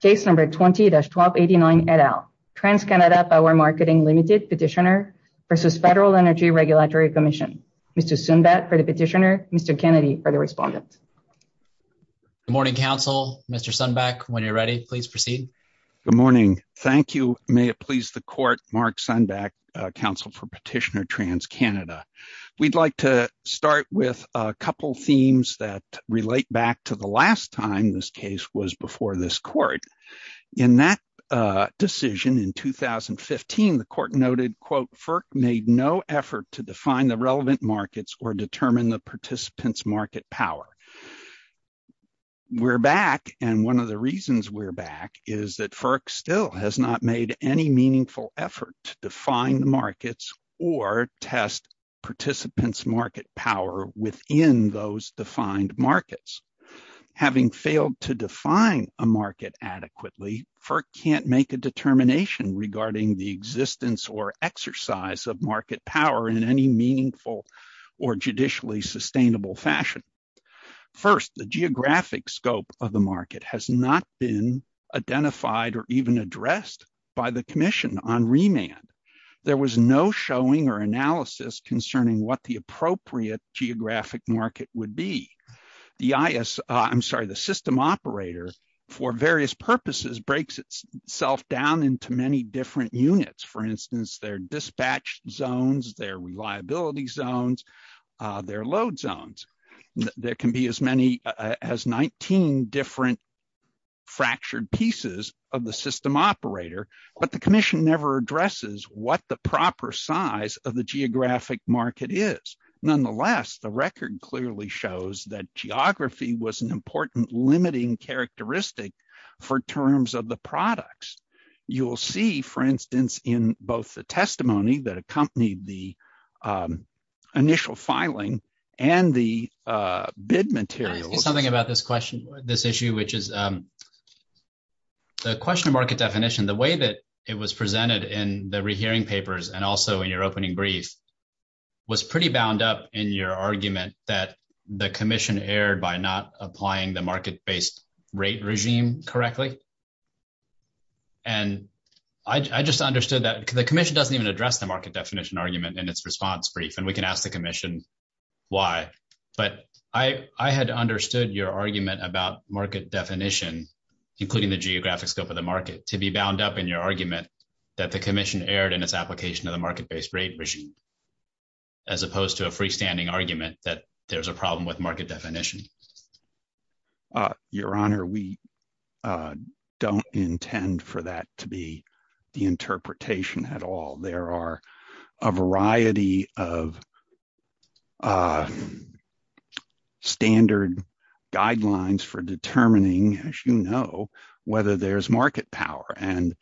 Case number 20-1289 et al. TransCanada Power Marketing Limited Petitioner v. Federal Energy Regulatory Commission. Mr. Sunbeck for the petitioner, Mr. Kennedy for the respondent. Good morning, counsel. Mr. Sunbeck, when you're ready, please proceed. Good morning. Thank you. May it please the court, Mark Sunbeck, counsel for Petitioner TransCanada. We'd like to In that decision in 2015, the court noted, quote, FERC made no effort to define the relevant markets or determine the participants' market power. We're back, and one of the reasons we're back is that FERC still has not made any meaningful effort to define the markets or test participants' market power within those defined markets. Having failed to define a market adequately, FERC can't make a determination regarding the existence or exercise of market power in any meaningful or judicially sustainable fashion. First, the geographic scope of the market has not been identified or even addressed by the commission on remand. There was no showing or geographic market would be. The system operator, for various purposes, breaks itself down into many different units. For instance, their dispatch zones, their reliability zones, their load zones. There can be as many as 19 different fractured pieces of the system operator, but the commission never addresses what the proper size of the geographic market is. Nonetheless, the record clearly shows that geography was an important limiting characteristic for terms of the products. You'll see, for instance, in both the testimony that accompanied the initial filing and the bid material. I think something about this question, this issue, which is the question of market definition, the way that it was presented in the rehearing papers and also in your opening brief was pretty bound up in your argument that the commission erred by not applying the market-based rate regime correctly. And I just understood that the commission doesn't even address the market definition argument in its response brief, and we can ask the commission why. But I had understood your argument about market definition, including the geographic scope of the market, to be bound up in your argument that the commission erred in its application of the market-based rate regime, as opposed to a freestanding argument that there's a problem with market definition. Your Honor, we don't intend for that to be the interpretation at all. There are a variety of standard guidelines for determining, as you know, whether there's market power. And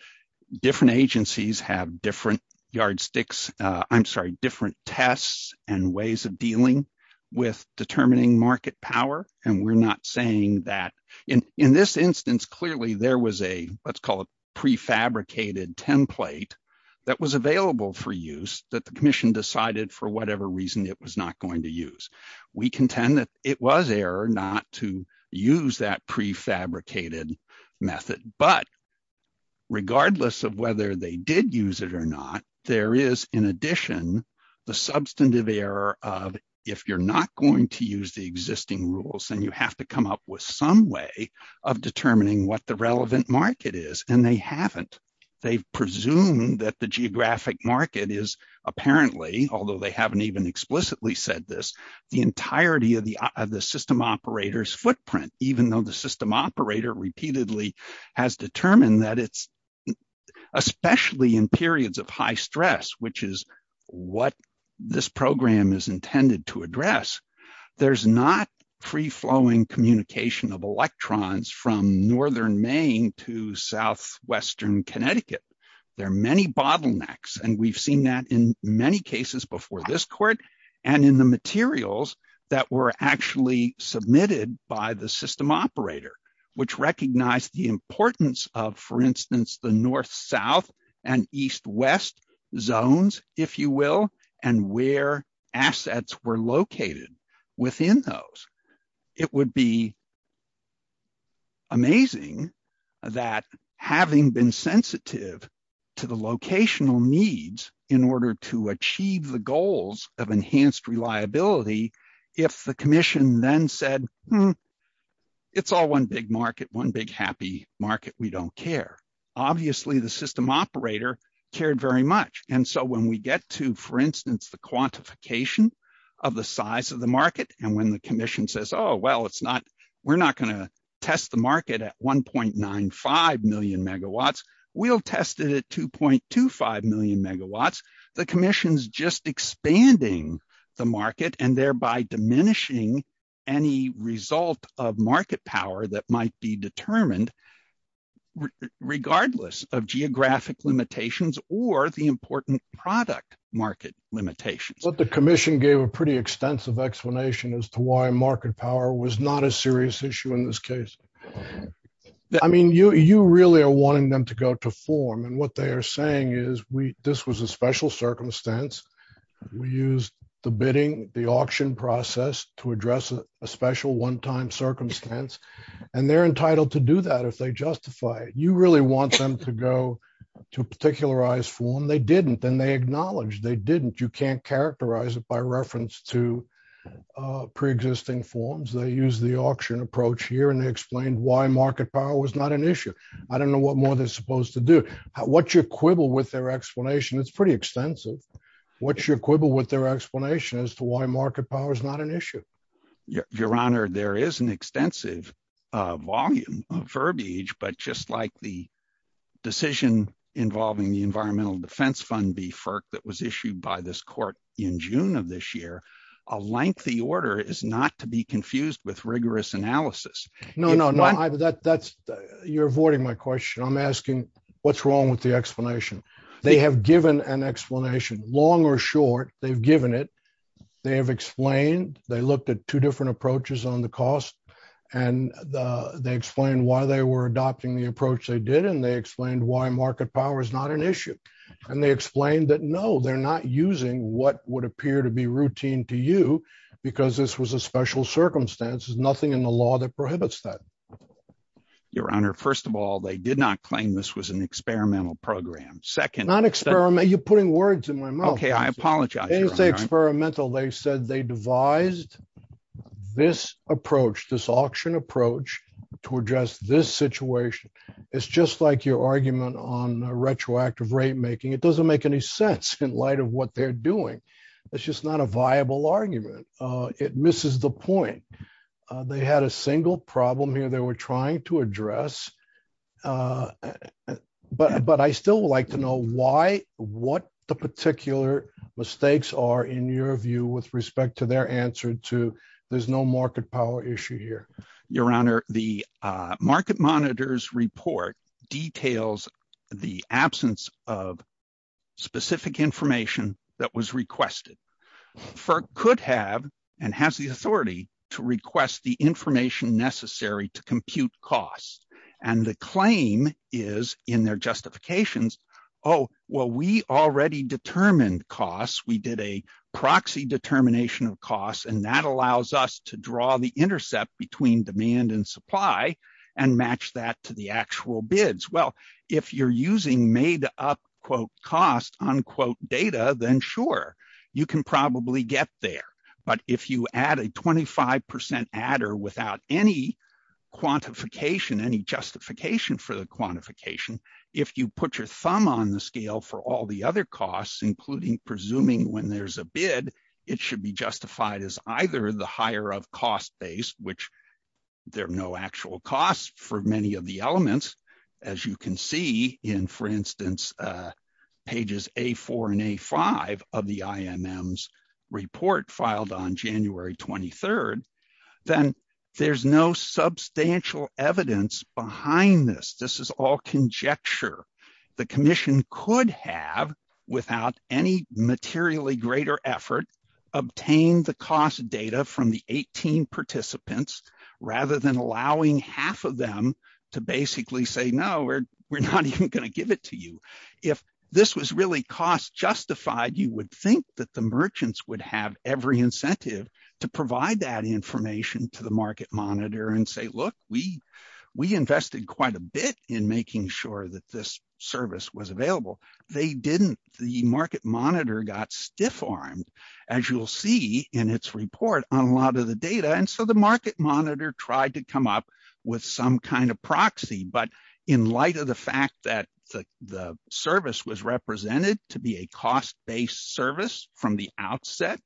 different agencies have different yardsticks, I'm sorry, different tests and ways of dealing with determining market power. And we're not saying that in this instance, clearly there was a, let's call it prefabricated template that was available for use that the commission decided for whatever reason it was not going to use. We contend that it was error not to use that prefabricated method. But regardless of whether they did use it or not, there is, in addition, the substantive error of if you're not going to use the existing rules, then you have to come up with some way of determining what the relevant market is. And they haven't. They've presumed that the geographic market is apparently, although they haven't even explicitly said this, the entirety of the system operator's footprint, even though the system operator repeatedly has determined that it's, especially in periods of not free-flowing communication of electrons from Northern Maine to Southwestern Connecticut, there are many bottlenecks. And we've seen that in many cases before this court and in the materials that were actually submitted by the system operator, which recognized the importance of, for instance, the North-South and East-West zones, if you will, and where assets were located within those. It would be amazing that having been sensitive to the locational needs in order to achieve the goals of enhanced reliability, if the commission then said, it's all one big market, one big happy market, we don't care. Obviously, the system operator cared very much. And so when we get to, for instance, the quantification of the size of the market, and when the commission says, oh, well, we're not going to test the market at 1.95 million megawatts, we'll test it at 2.25 million megawatts, the commission's just expanding the market and thereby diminishing any result of market power that might be determined regardless of geographic limitations or the important product market limitations. But the commission gave a pretty extensive explanation as to why market power was not a serious issue in this case. I mean, you really are wanting them to go to form. And what they are saying is, this was a special circumstance. We used the bidding, the auction process to address a special one-time circumstance. And they're entitled to do that if they justify it. You really want them to go to a particularized form. They didn't. And they acknowledged they didn't. You can't characterize it by reference to pre-existing forms. They use the auction approach here, and they explained why market power was not an issue. I don't know what more they're supposed to do. What's your quibble with their explanation? It's pretty extensive. What's your quibble with their explanation as to why market power is not an issue? Your Honor, there is an extensive volume of verbiage, but just like the decision involving the Environmental Defense Fund, BFERC, that was issued by this court in June of this year, a lengthy order is not to be confused with rigorous analysis. No, no, no. You're avoiding my question. I'm asking what's wrong with the explanation. They have given an explanation, long or short. They've given it. They have explained. They looked at two different approaches on the cost, and they explained why they were adopting the approach they did, and they explained why market power is not an issue. And they explained that, no, they're not using what would appear to be routine to you because this was a special circumstance. There's nothing in the law that prohibits that. Your Honor, first of all, they did not claim this was an experimental program. Second... Not experiment. You're putting words in my mouth. Okay, I apologize. They didn't say experimental. They said they devised this approach, this auction approach to address this situation. It's just like your argument on retroactive rate making. It doesn't make any sense in light of what they're doing. It's just not a viable argument. It misses the point. They had a single problem here they were trying to address, but I still would like to know why, what the particular mistakes are in your view with respect to their answer to there's no market power issue here. Your Honor, the market monitors report details the absence of specific information that was information necessary to compute costs. And the claim is in their justifications, oh, well, we already determined costs. We did a proxy determination of costs, and that allows us to draw the intercept between demand and supply and match that to the actual bids. Well, if you're using made up quote cost unquote data, then sure, you can probably get there. But if you add a 25% adder without any quantification, any justification for the quantification, if you put your thumb on the scale for all the other costs, including presuming when there's a bid, it should be justified as either the higher of cost base, which there are no actual costs for many of the elements, as you can see in, for instance, pages A4 and A5 of the IMM's report filed on January 23rd, then there's no substantial evidence behind this. This is all conjecture. The commission could have, without any materially greater effort, obtained the cost data from the 18 participants rather than allowing half of them to basically say, no, we're not even going to give it to you. If this was really cost justified, you would think that the merchants would have every incentive to provide that information to the market monitor and say, look, we invested quite a bit in making sure that this service was available. They didn't. The market monitor got stiff-armed, as you'll see in its report on a lot of the data, and so the market monitor tried to come up with some kind of proxy. But in light of the fact that the service was represented to be a cost-based service from the outset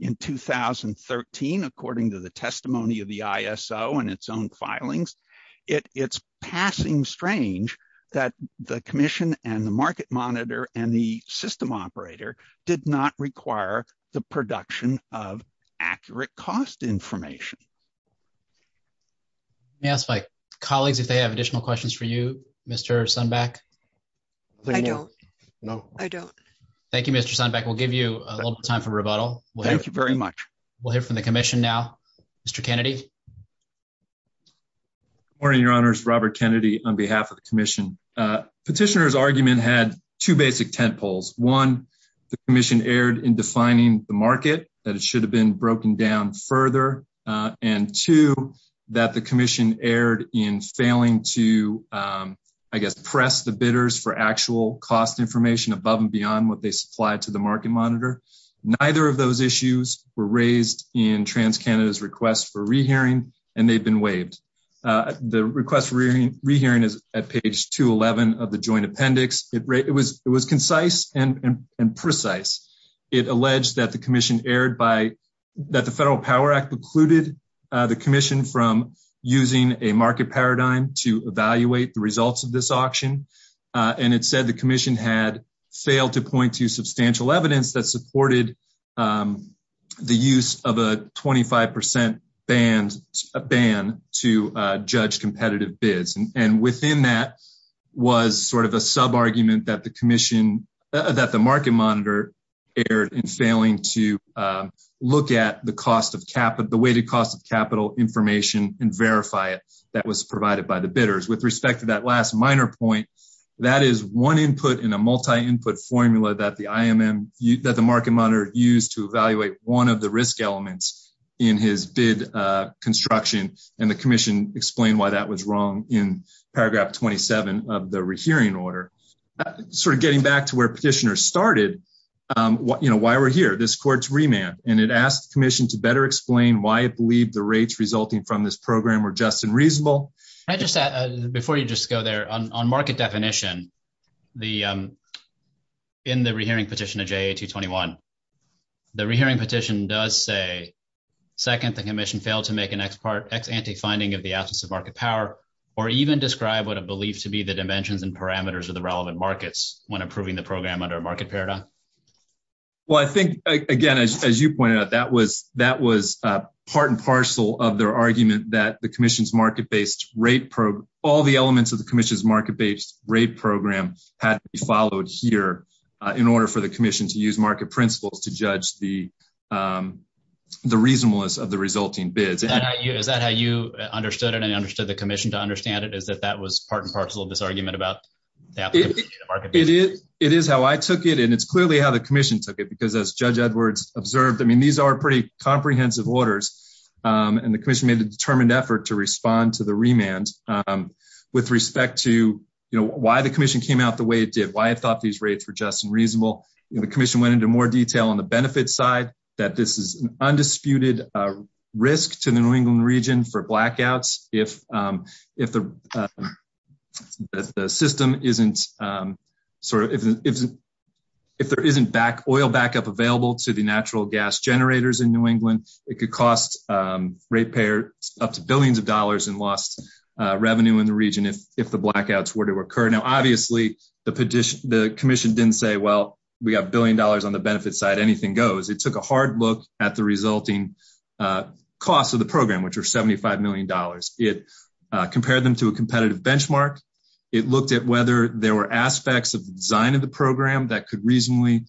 in 2013, according to the testimony of the ISO and its own filings, it's passing strange that the commission and the market monitor and the system operator did not require the production of information. Let me ask my colleagues if they have additional questions for you, Mr. Sunbeck. I don't. No. I don't. Thank you, Mr. Sunbeck. We'll give you a little time for rebuttal. Thank you very much. We'll hear from the commission now. Mr. Kennedy. Good morning, your honors. Robert Kennedy on behalf of the commission. Petitioner's argument had two basic tentpoles. One, the commission erred in defining the market, that it should have been broken down further, and two, that the commission erred in failing to, I guess, press the bidders for actual cost information above and beyond what they supplied to the market monitor. Neither of those issues were raised in TransCanada's request for rehearing, and they've been waived. The request for rehearing is at page 211 of the joint appendix. It was concise and that the Federal Power Act precluded the commission from using a market paradigm to evaluate the results of this auction, and it said the commission had failed to point to substantial evidence that supported the use of a 25 percent ban to judge competitive bids, and within that was sort of a look at the weighted cost of capital information and verify it that was provided by the bidders. With respect to that last minor point, that is one input in a multi-input formula that the market monitor used to evaluate one of the risk elements in his bid construction, and the commission explained why that was wrong in paragraph 27 of the rehearing order. Sort of better explain why it believed the rates resulting from this program were just and reasonable. Before you just go there, on market definition, in the rehearing petition of JA-221, the rehearing petition does say, second, the commission failed to make an ex-ante finding of the absence of market power or even describe what are believed to be the dimensions and parameters of the relevant markets when approving the program under a market paradigm. Well, I think, again, as you pointed out, that was part and parcel of their argument that the commission's market-based rate program, all the elements of the commission's market-based rate program had to be followed here in order for the commission to use market principles to judge the reasonableness of the resulting bids. Is that how you understood it and understood the commission to understand it, is that that was part and parcel of this argument about that? It is how I took it and it's clearly how the commission took it because as Judge Edwards observed, I mean, these are pretty comprehensive orders and the commission made a determined effort to respond to the remand with respect to, you know, why the commission came out the way it did, why it thought these rates were just and reasonable. The commission went into more detail on the benefits side that this is an undisputed risk to the New England region for if there isn't oil backup available to the natural gas generators in New England, it could cost ratepayers up to billions of dollars in lost revenue in the region if the blackouts were to occur. Now, obviously, the commission didn't say, well, we got a billion dollars on the benefit side, anything goes. It took a hard look at the resulting cost of the program, which was $75 million. It compared them to a competitive benchmark. It looked at whether there were aspects of the design of the program that could reasonably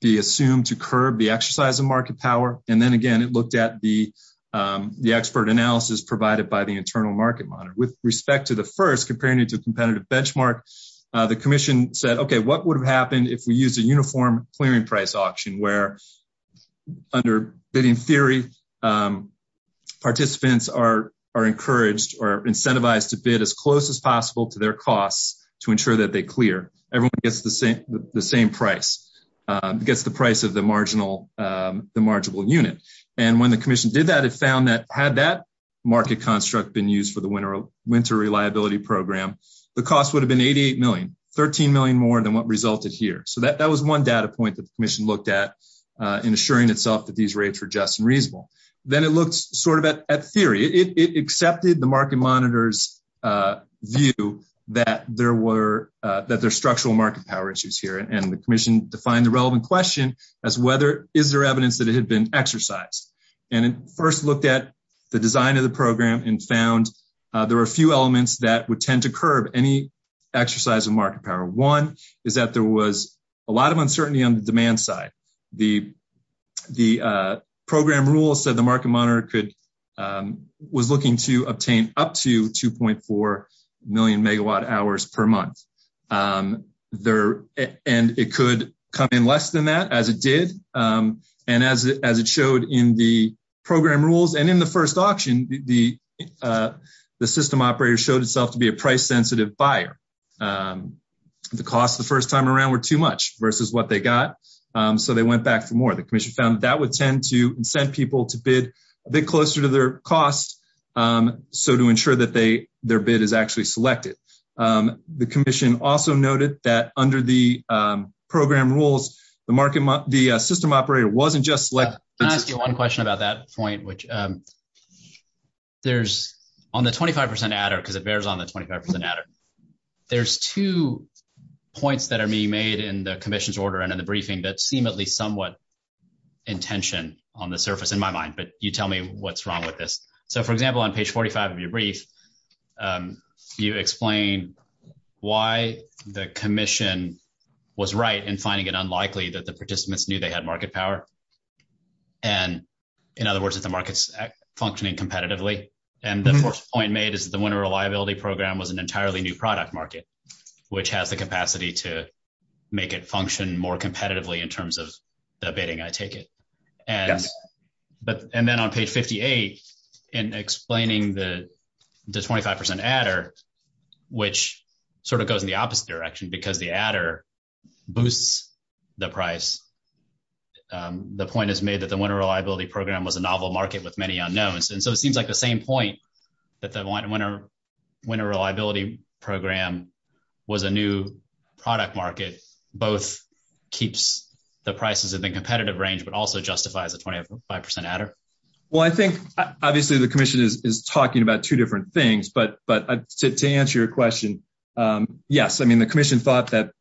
be assumed to curb the exercise of market power. And then again, it looked at the expert analysis provided by the Internal Market Monitor. With respect to the first, comparing it to a competitive benchmark, the commission said, okay, what would have happened if we used a uniform clearing price where under bidding theory, participants are encouraged or incentivized to bid as close as possible to their costs to ensure that they clear. Everyone gets the same price, gets the price of the marginal unit. And when the commission did that, it found that had that market construct been used for the winter reliability program, the cost would have been $88 million, $13 million more than what resulted here. So that was one data point that the commission looked at in assuring itself that these rates were just and reasonable. Then it looked sort of at theory. It accepted the market monitor's view that there were, that there's structural market power issues here. And the commission defined the relevant question as whether, is there evidence that it had been exercised? And it first looked at the design of the program and found there were a few that there was a lot of uncertainty on the demand side. The program rule said the market monitor was looking to obtain up to 2.4 million megawatt hours per month. And it could come in less than that as it did. And as it showed in the program rules and in the first auction, the system operator showed itself to be a price sensitive buyer. The cost the first time around were too much versus what they got. So they went back for more. The commission found that would tend to incent people to bid a bit closer to their costs. So to ensure that they, their bid is actually selected. The commission also noted that under the program rules, the market, the system operator wasn't just like... Can I ask you one question about that point, which there's on the 25% adder, because it bears on the 25% adder. There's two points that are being made in the commission's order and in the briefing that seem at least somewhat intention on the surface in my mind, but you tell me what's wrong with this. So for example, on page 45 of your brief, you explain why the commission was right in finding it unlikely that the participants knew they had market power. And in other words, that the market's functioning competitively. And the first point made is that the winter reliability program was an entirely new product market, which has the capacity to make it function more competitively in terms of the bidding, I take it. And then on page 58, in explaining the 25% adder, which sort of goes in the opposite direction because the adder boosts the price, the point is made that the winter reliability program was a novel market with many unknowns. And so it seems like the same point that the winter reliability program was a new product market, both keeps the prices in the competitive range, but also justifies the 25% adder. Well, I think obviously the commission is talking about two different things, but to answer your question, yes. I mean, the commission thought that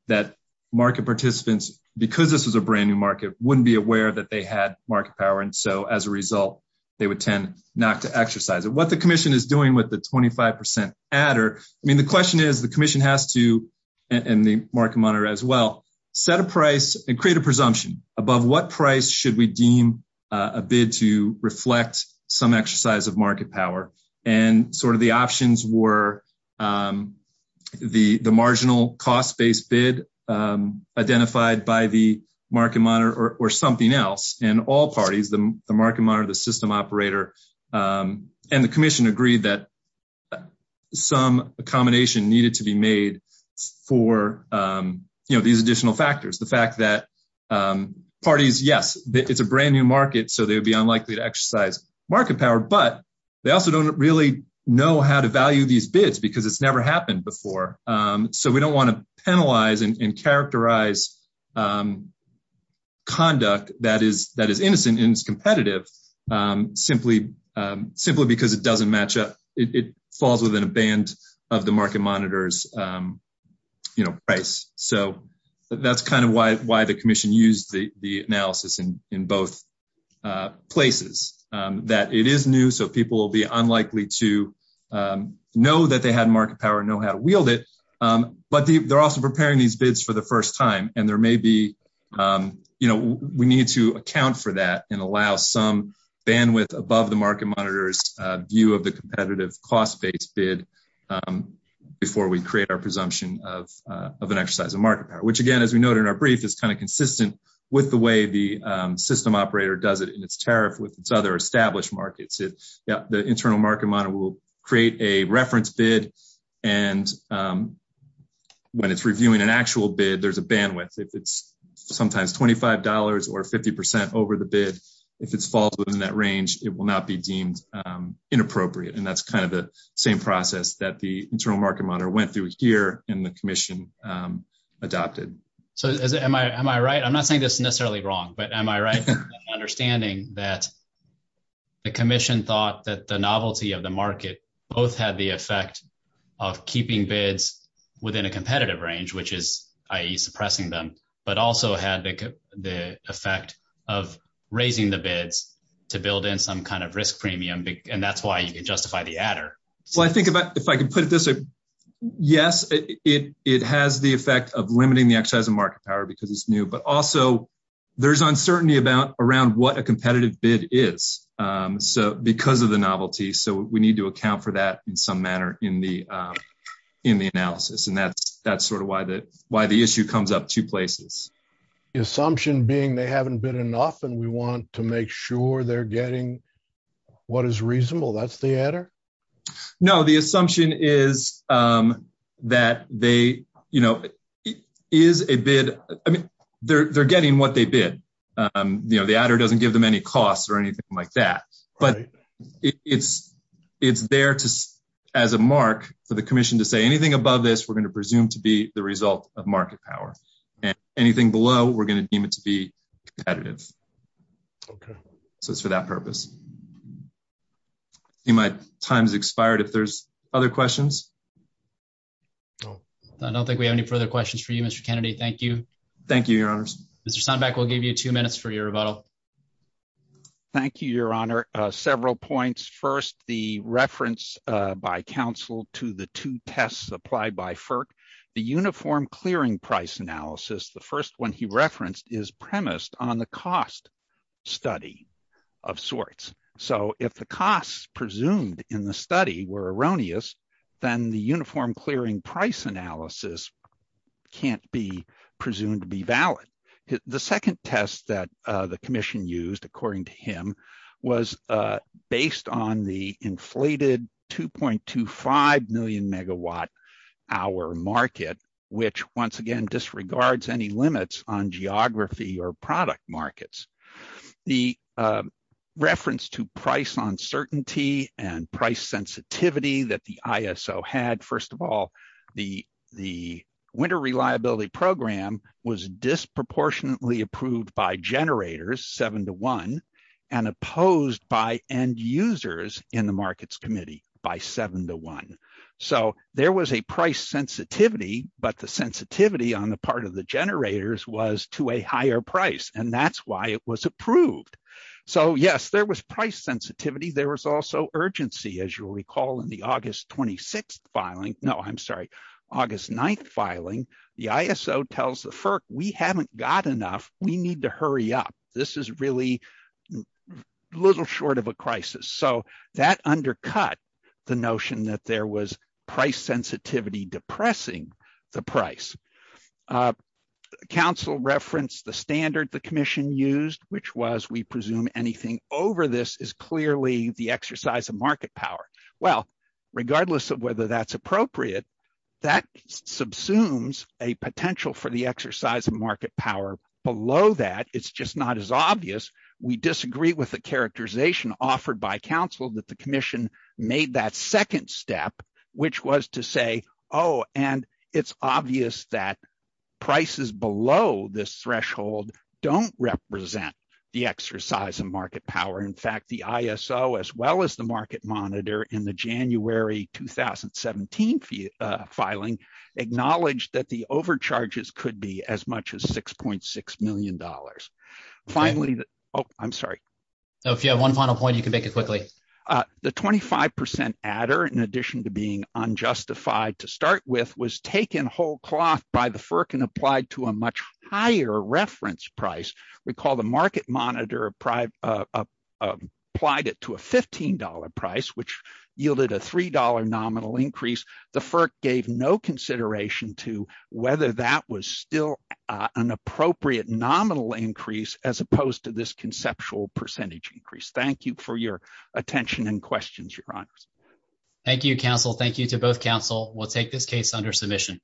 market participants, because this was a brand new market, wouldn't be aware that they had market power. And so as a result, they would tend not to exercise it. What the commission is doing with the 25% adder, I mean, the question is, the commission has to, and the market monitor as well, set a price and create a presumption above what price should we deem a bid to reflect some exercise of market power. And sort of the options were the marginal cost-based bid identified by the market monitor or something else. And all parties, the market monitor, the system operator, and the commission agreed that some accommodation needed to be made for these additional factors. The fact that parties, yes, it's a brand new market, so they would be unlikely to exercise market power, but they also don't really know how to value these bids because it's never happened before. So we don't want to penalize and characterize conduct that is innocent and is competitive simply because it doesn't match up, it falls within a band of the market monitor's price. So that's kind of why the commission used the analysis in both places, that it is new, so people will be unlikely to know that they had market power and know how to wield it. But they're also preparing these bids for the first time, and there may be, we need to account for that and allow some bandwidth above the market monitor's competitive cost-based bid before we create our presumption of an exercise of market power, which again, as we noted in our brief, is kind of consistent with the way the system operator does it in its tariff with its other established markets. The internal market monitor will create a reference bid, and when it's reviewing an actual bid, there's a bandwidth. If it's sometimes $25 or 50% over the bid, if it falls within that range, it will not be deemed inappropriate, and that's kind of the same process that the internal market monitor went through here and the commission adopted. So am I right? I'm not saying this is necessarily wrong, but am I right in understanding that the commission thought that the novelty of the market both had the effect of keeping bids within a competitive range, which is i.e. suppressing them, but also had the effect of raising the bids to build in some kind of risk premium, and that's why you could justify the adder? Well, I think if I could put it this way, yes, it has the effect of limiting the exercise of market power because it's new, but also there's uncertainty around what a competitive bid is because of the novelty, so we need to The assumption being they haven't bid enough and we want to make sure they're getting what is reasonable, that's the adder? No, the assumption is that they, you know, is a bid, I mean, they're getting what they bid, you know, the adder doesn't give them any costs or anything like that, but it's there as a mark for the commission to say anything above this, going to presume to be the result of market power, and anything below, we're going to deem it to be competitive. Okay. So it's for that purpose. My time's expired, if there's other questions. I don't think we have any further questions for you, Mr. Kennedy, thank you. Thank you, your honors. Mr. Sonbeck, we'll give you two minutes for your rebuttal. Thank you, your honor. Several points. First, the reference by counsel to the two tests applied by the Uniform Clearing Price Analysis, the first one he referenced is premised on the cost study of sorts. So if the costs presumed in the study were erroneous, then the Uniform Clearing Price Analysis can't be presumed to be valid. The second test that the commission used, according to him, was based on the inflated 2.25 million megawatt hour market, which once again, disregards any limits on geography or product markets. The reference to price uncertainty and price sensitivity that the ISO had, first of all, the winter reliability program was disproportionately approved by generators seven to one, and opposed by end users in the markets committee by seven to one. So there was a price sensitivity, but the sensitivity on the part of the generators was to a higher price. And that's why it was approved. So yes, there was price sensitivity. There was also urgency, as you'll recall, in the August 26th filing, no, I'm sorry, August 9th filing, the ISO tells the FERC, we haven't got enough, we need to hurry up. This is really a little short of a crisis. So that undercut the notion that there was price sensitivity depressing the price. Council referenced the standard the commission used, which was we presume anything over this is clearly the exercise of market power. Well, regardless of whether that's appropriate, that subsumes a potential for the exercise of market power below that, it's just not as obvious. We disagree with the characterization offered by council that the commission made that second step, which was to say, oh, and it's obvious that prices below this threshold don't represent the exercise of market power. In fact, the ISO, as well as the market monitor in the January 2017 filing, acknowledged that the overcharges could be as much as $6.6 million. Finally, oh, I'm sorry. So if you have one final point, you can make it quickly. The 25% adder, in addition to being unjustified to start with, was taken whole cloth by the FERC and applied to a much higher reference price. Recall the market monitor applied it to a $15 price, which yielded a $3 nominal increase. The FERC gave no consideration to whether that was still an appropriate nominal increase as opposed to this conceptual percentage increase. Thank you for your attention and questions, your honors. Thank you, counsel. Thank you to both counsel. We'll take this case under submission.